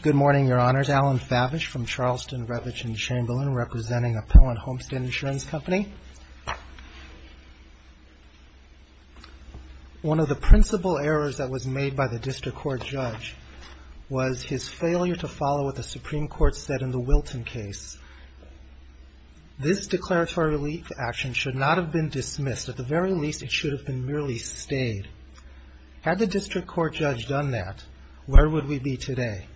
Good morning, Your Honors. Alan Favish from Charleston, Redwich, and Chamberlain, representing Appellant Homestead Insurance Company. One of the principal errors that was made by the District Court Judge was his failure to follow what the Supreme Court said in the Wilton case. This declaratory relief action should not have been dismissed. At the very least, it should have been merely stayed. Had the District Court Judge done that, where would we be today?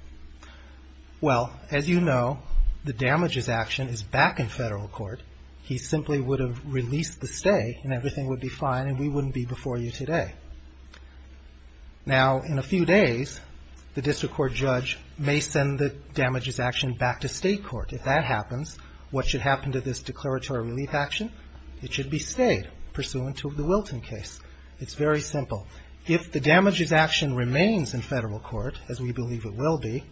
Well, as you know, the damages action is back in federal court. He simply would have released the stay and everything would be fine and we wouldn't be before you today. Now, in a few days, the District Court Judge may send the damages action back to state court. If that happens, what should happen to this declaratory relief action? It should be stayed pursuant to the Wilton case. It's very simple. If the damages action remains in federal court, as we believe it will be,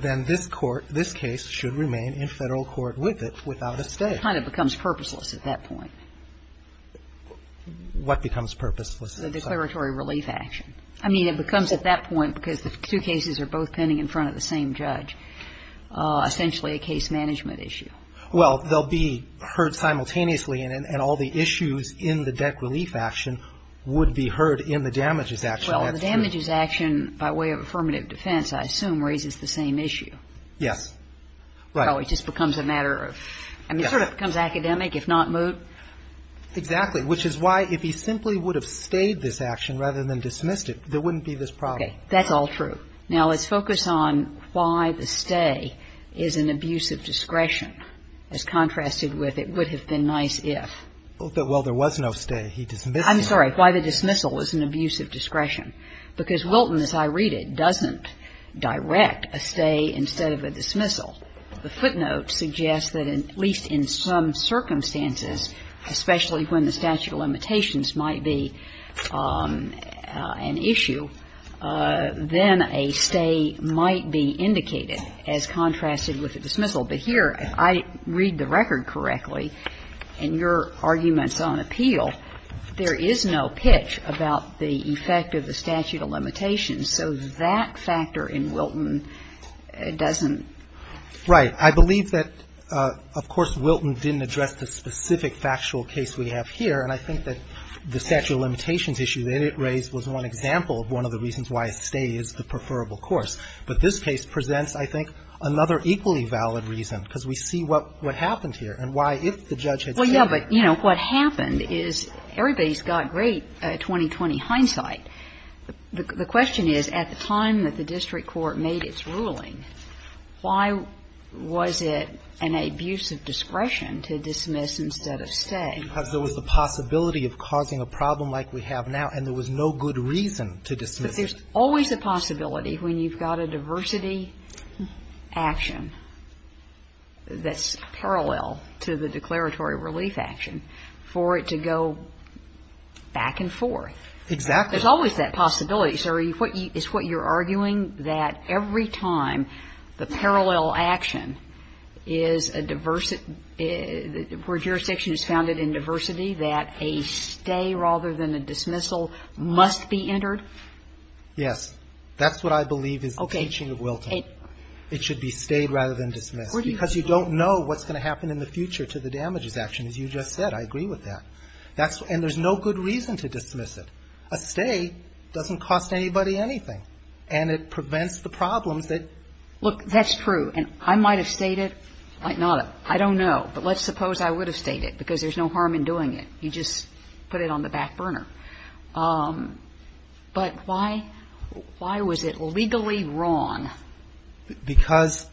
then this court, this case should remain in federal court with it without a stay. It kind of becomes purposeless at that point. What becomes purposeless? The declaratory relief action. I mean, it becomes at that point, because the two cases are both pending in front of the same judge, essentially a case management issue. Well, they'll be heard simultaneously and all the issues in the debt relief action would be heard in the damages action. Well, the damages action, by way of affirmative defense, I assume, raises the same issue. Yes. Right. It just becomes a matter of, I mean, it sort of becomes academic, if not moot. Exactly. Which is why, if he simply would have stayed this action rather than dismissed it, there wouldn't be this problem. Okay. That's all true. Now, let's focus on why the stay is an abuse of discretion, as contrasted with it would have been nice if. Well, there was no stay. He dismissed it. I'm sorry. Why the dismissal is an abuse of discretion. Because Wilton, as I read it, doesn't direct a stay instead of a dismissal. The footnote suggests that at least in some circumstances, especially when the statute of limitations might be an issue, then a stay might be indicated as contrasted with a dismissal. But here, if I read the record correctly, in your arguments on appeal, there is no pitch about the effect of the statute of limitations. So that factor in Wilton doesn't. Right. I believe that, of course, Wilton didn't address the specific factual case we have here. And I think that the statute of limitations issue that it raised was one example of one of the reasons why a stay is the preferable course. But this case presents, I think, another equally valid reason, because we see what happened here and why, if the judge had said. Well, yeah, but, you know, what happened is everybody's got great 2020 hindsight. The question is, at the time that the district court made its ruling, why was it an abuse of discretion to dismiss instead of stay? Because there was a possibility of causing a problem like we have now, and there was no good reason to dismiss it. But there's always a possibility, when you've got a diversity action that's parallel to the declaratory relief action, for it to go back and forth. Exactly. There's always that possibility. So is what you're arguing, that every time the parallel action is a diversity action, that's where jurisdiction is founded in diversity, that a stay rather than a dismissal must be entered? Yes. That's what I believe is the teaching of Wilton. Okay. It should be stayed rather than dismissed. Because you don't know what's going to happen in the future to the damages action, as you just said. I agree with that. And there's no good reason to dismiss it. A stay doesn't cost anybody anything. And it prevents the problems that ---- Look, that's true. And I might have stated, I don't know. But let's suppose I would have stated, because there's no harm in doing it. You just put it on the back burner. But why was it legally wrong? Because,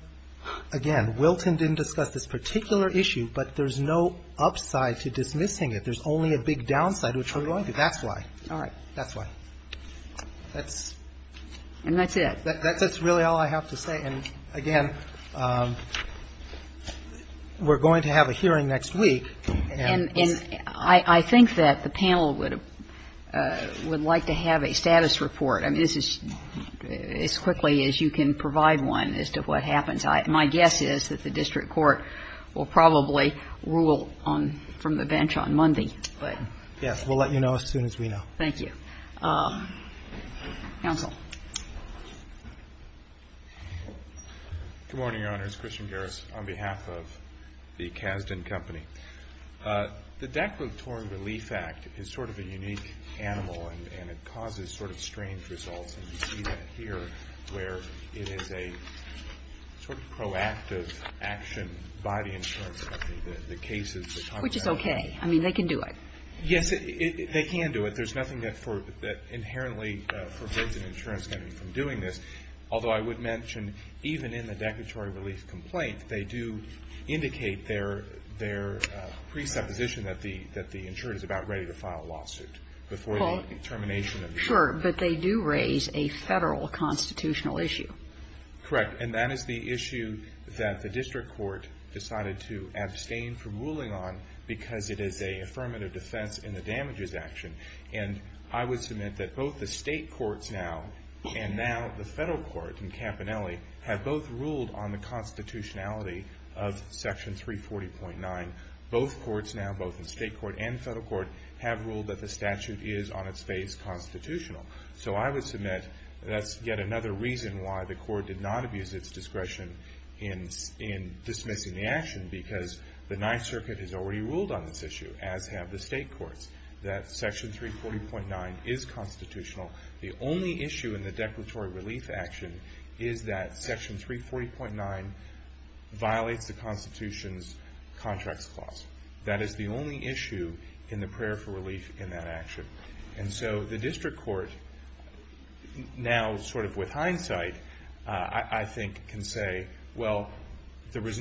again, Wilton didn't discuss this particular issue, but there's no upside to dismissing it. There's only a big downside, which we're going to. That's why. That's why. And that's it. That's really all I have to say. And, again, we're going to have a hearing next week. And I think that the panel would like to have a status report. I mean, this is as quickly as you can provide one as to what happens. My guess is that the district court will probably rule from the bench on Monday. Yes. We'll let you know as soon as we know. Thank you. Counsel. Good morning, Your Honors. Christian Garris on behalf of the Kasdan Company. The Declaratory Relief Act is sort of a unique animal, and it causes sort of strange results. And you see that here where it is a sort of proactive action by the insurance company. The cases that talk about it. Which is okay. I mean, they can do it. Yes, they can do it. But there's nothing that inherently prevents an insurance company from doing this. Although I would mention, even in the declaratory relief complaint, they do indicate their presupposition that the insured is about ready to file a lawsuit before the termination of the insurance. Sure. But they do raise a Federal constitutional issue. Correct. And that is the issue that the district court decided to abstain from ruling on because it is an affirmative defense in the damages action. And I would submit that both the state courts now and now the Federal court in Campanelli have both ruled on the constitutionality of Section 340.9. Both courts now, both the state court and the Federal court, have ruled that the statute is on its face constitutional. So I would submit that's yet another reason why the court did not abuse its discretion in dismissing the action. Because the Ninth Circuit has already ruled on this issue, as have the state courts, that Section 340.9 is constitutional. The only issue in the declaratory relief action is that Section 340.9 violates the Constitution's contracts clause. That is the only issue in the prayer for relief in that action. And so the district court now, sort of with hindsight, I think can say, well, there is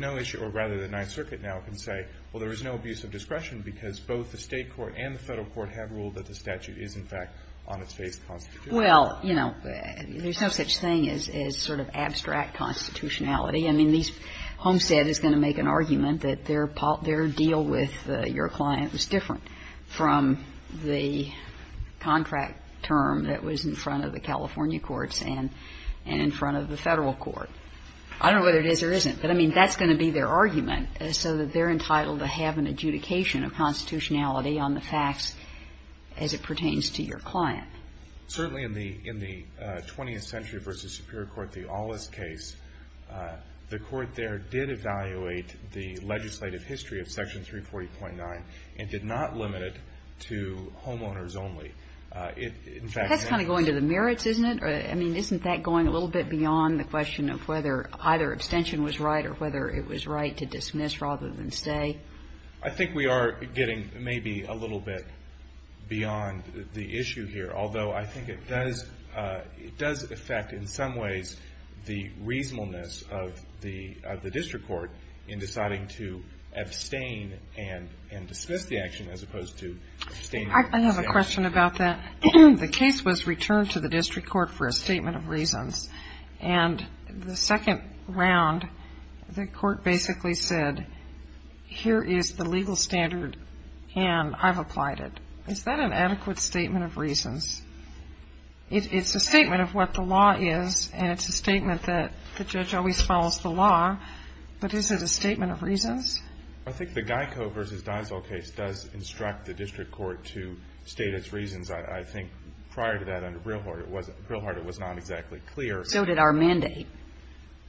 no issue, or rather the Ninth Circuit now can say, well, there is no abuse of discretion because both the state court and the Federal court have ruled that the statute is in fact on its face constitutional. Well, you know, there's no such thing as sort of abstract constitutionality. I mean, Homestead is going to make an argument that their deal with your client was different from the contract term that was in front of the California courts and in front of the Federal court. I don't know whether it is or isn't, but, I mean, that's going to be their argument, so that they're entitled to have an adjudication of constitutionality on the facts as it pertains to your client. Certainly in the 20th Century v. Superior Court, the Ollis case, the court there did evaluate the legislative history of Section 340.9 and did not limit it to homeowners In fact, in that case the court did not. That's kind of going to the merits, isn't it? I mean, isn't that going a little bit beyond the question of whether either abstention was right or whether it was right to dismiss rather than say? I think we are getting maybe a little bit beyond the issue here, although I think it does affect in some ways the reasonableness of the district court in deciding to abstain and dismiss the action as opposed to abstaining. I have a question about that. The case was returned to the district court for a statement of reasons, and the second round the court basically said, here is the legal standard, and I've applied it. Is that an adequate statement of reasons? It's a statement of what the law is, and it's a statement that the judge always follows the law, but is it a statement of reasons? I think the Geico v. Deisel case does instruct the district court to state its reasons. I think prior to that under Brilhart it was not exactly clear. So did our mandate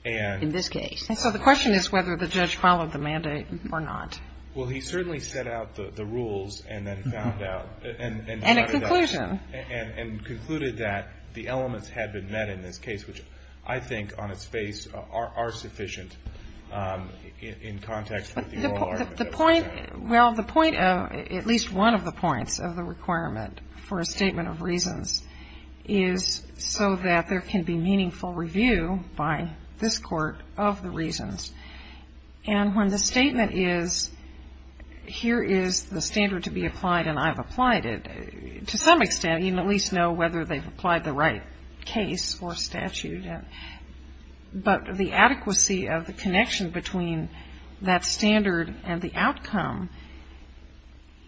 in this case. And so the question is whether the judge followed the mandate or not. Well, he certainly set out the rules and then found out. And a conclusion. And concluded that the elements had been met in this case, which I think on its face are sufficient in context with the oral argument. Well, the point of, at least one of the points of the requirement for a statement of reasons, is so that there can be meaningful review by this Court of the reasons. And when the statement is, here is the standard to be applied and I've applied it, to some extent you can at least know whether they've applied the right case or statute. But the adequacy of the connection between that standard and the outcome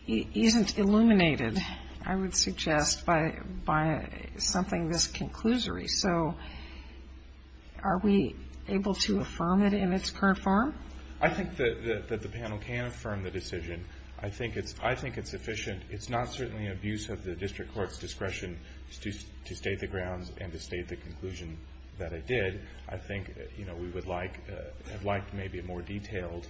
isn't illuminated, I would suggest, by something this conclusory. So are we able to affirm it in its current form? I think that the panel can affirm the decision. I think it's efficient. It's not certainly an abuse of the district court's discretion to state the grounds and to state the conclusion that it did. I think we would like maybe a more detailed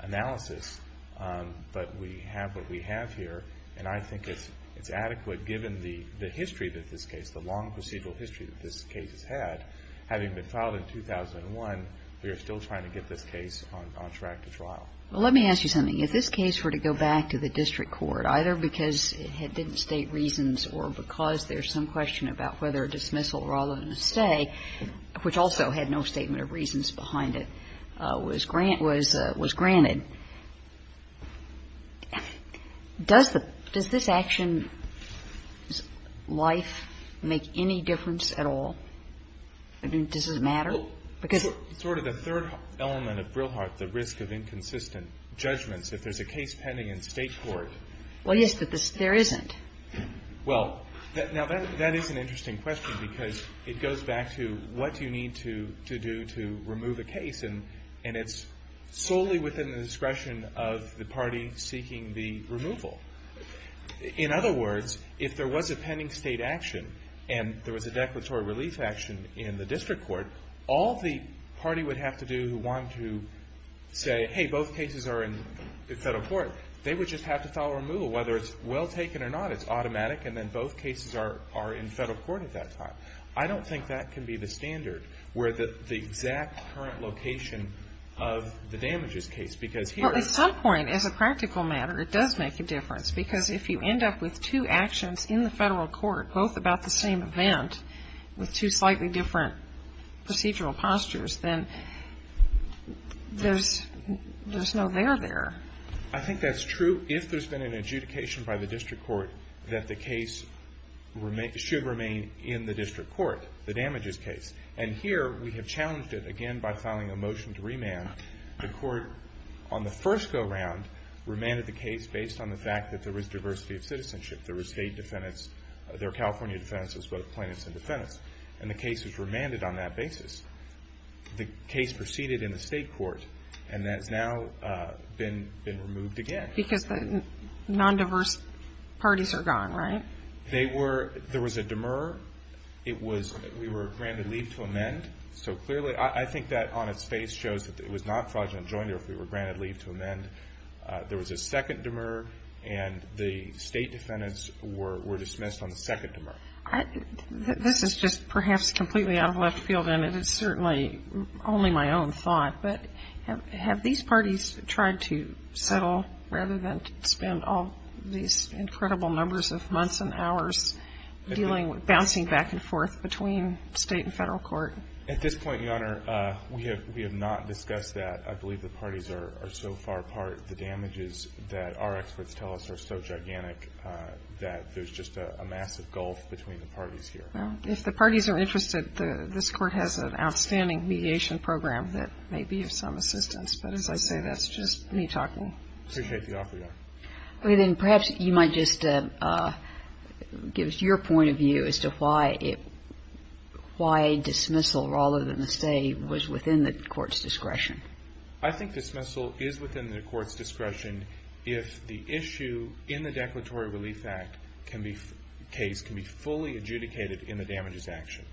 analysis. But we have what we have here. And I think it's adequate given the history that this case, the long procedural history that this case has had. Having been filed in 2001, we are still trying to get this case on track to trial. Well, let me ask you something. If this case were to go back to the district court, either because it didn't state reasons or because there's some question about whether a dismissal rather than a stay, which also had no statement of reasons behind it, was granted, does this action's life make any difference at all? I mean, does it matter? Well, sort of the third element of Brilhart, the risk of inconsistent judgments, if there's a case pending in state court. Well, yes, but there isn't. Well, now that is an interesting question because it goes back to what do you need to do to remove a case. And it's solely within the discretion of the party seeking the removal. In other words, if there was a pending state action and there was a declaratory relief action in the district court, all the party would have to do who wanted to say, hey, both cases are in federal court, they would just have to file a removal, whether it's well taken or not. It's automatic, and then both cases are in federal court at that time. I don't think that can be the standard where the exact current location of the damages case because here at some point, as a practical matter, it does make a difference because if you end up with two actions in the federal court, both about the same event with two slightly different procedural postures, then there's no there there. I think that's true if there's been an adjudication by the district court that the case should remain in the district court, the damages case. And here we have challenged it again by filing a motion to remand. The court on the first go-round remanded the case based on the fact that there was diversity of citizenship, there were state defendants, there were California defendants as well as plaintiffs and defendants, and the case was remanded on that basis. The case proceeded in the state court, and that's now been removed again. Because the non-diverse parties are gone, right? There was a demur. We were granted leave to amend. So clearly, I think that on its face shows that it was not fraudulent joinery if we were granted leave to amend. There was a second demur, and the state defendants were dismissed on the second demur. This is just perhaps completely out of left field, and it is certainly only my own thought, but have these parties tried to settle rather than spend all these incredible numbers of months and hours bouncing back and forth between state and federal court? At this point, Your Honor, we have not discussed that. I believe the parties are so far apart. The damages that our experts tell us are so gigantic that there's just a massive gulf between the parties here. Well, if the parties are interested, this Court has an outstanding mediation program that may be of some assistance. But as I say, that's just me talking. I appreciate the offer, Your Honor. Okay. Then perhaps you might just give us your point of view as to why a dismissal rather than a stay was within the Court's discretion. I think dismissal is within the Court's discretion if the issue in the Declaratory Relief Act case can be fully adjudicated in the damages action,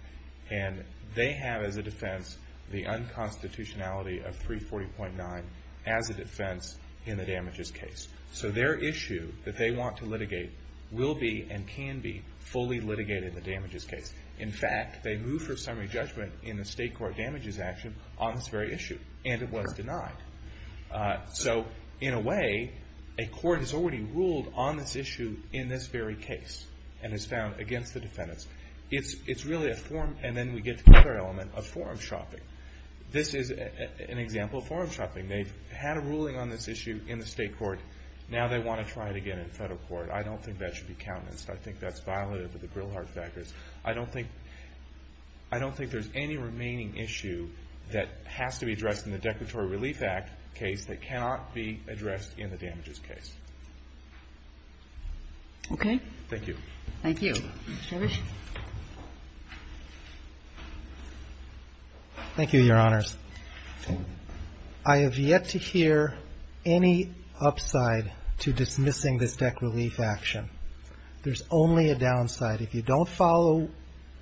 and they have as a defense the unconstitutionality of 340.9 as a defense in the damages case. So their issue that they want to litigate will be and can be fully litigated in the damages case. In fact, they move for summary judgment in the state court damages action on this very issue, and it was denied. So in a way, a court has already ruled on this issue in this very case and has found against the defendants. It's really a form, and then we get to the other element, of forum shopping. This is an example of forum shopping. They've had a ruling on this issue in the state court. Now they want to try it again in federal court. I don't think that should be countenanced. I think that's violative of the Grilhart Factors. I don't think there's any remaining issue that has to be addressed in the Declaratory Relief Act case that cannot be addressed in the damages case. Okay. Thank you. Thank you. Mr. Risch. Thank you, Your Honors. I have yet to hear any upside to dismissing this deck relief action. There's only a downside. If you don't follow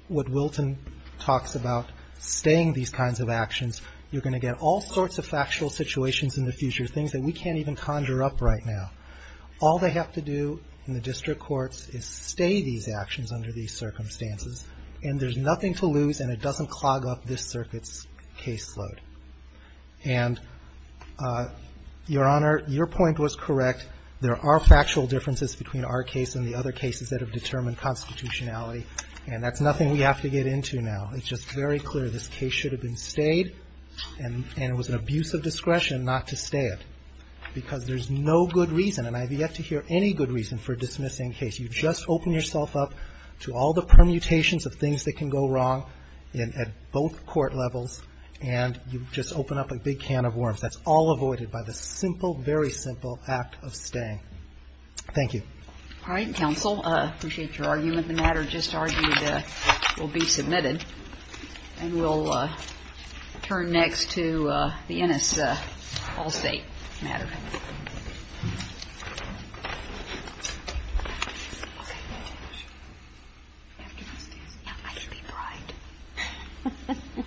what Wilton talks about, staying these kinds of actions, you're going to get all sorts of factual situations in the future, things that we can't even conjure up right now. All they have to do in the district courts is stay these actions under these circumstances, and there's nothing to lose, and it doesn't clog up this circuit's caseload. And, Your Honor, your point was correct. There are factual differences between our case and the other cases that have determined constitutionality, and that's nothing we have to get into now. It's just very clear this case should have been stayed, and it was an abuse of discretion not to stay it, because there's no good reason, and I have yet to hear any good reason for dismissing a case. You just open yourself up to all the permutations of things that can go wrong at both court levels, and you just open up a big can of worms. That's all avoided by the simple, very simple act of staying. Thank you. All right, counsel. I appreciate your argument. The matter just argued will be submitted, and we'll turn next to the NS Allstate matter. All right. All right. You have to go upstairs. Yeah. I can be bride.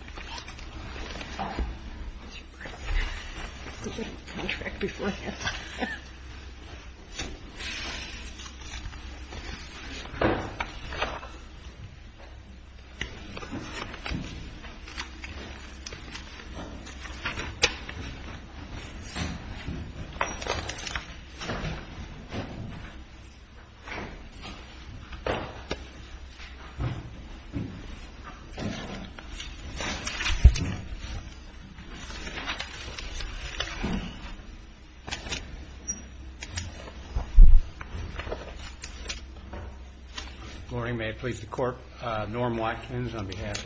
All right. All right. Morning, may it please the court. Norm Watkins on behalf of.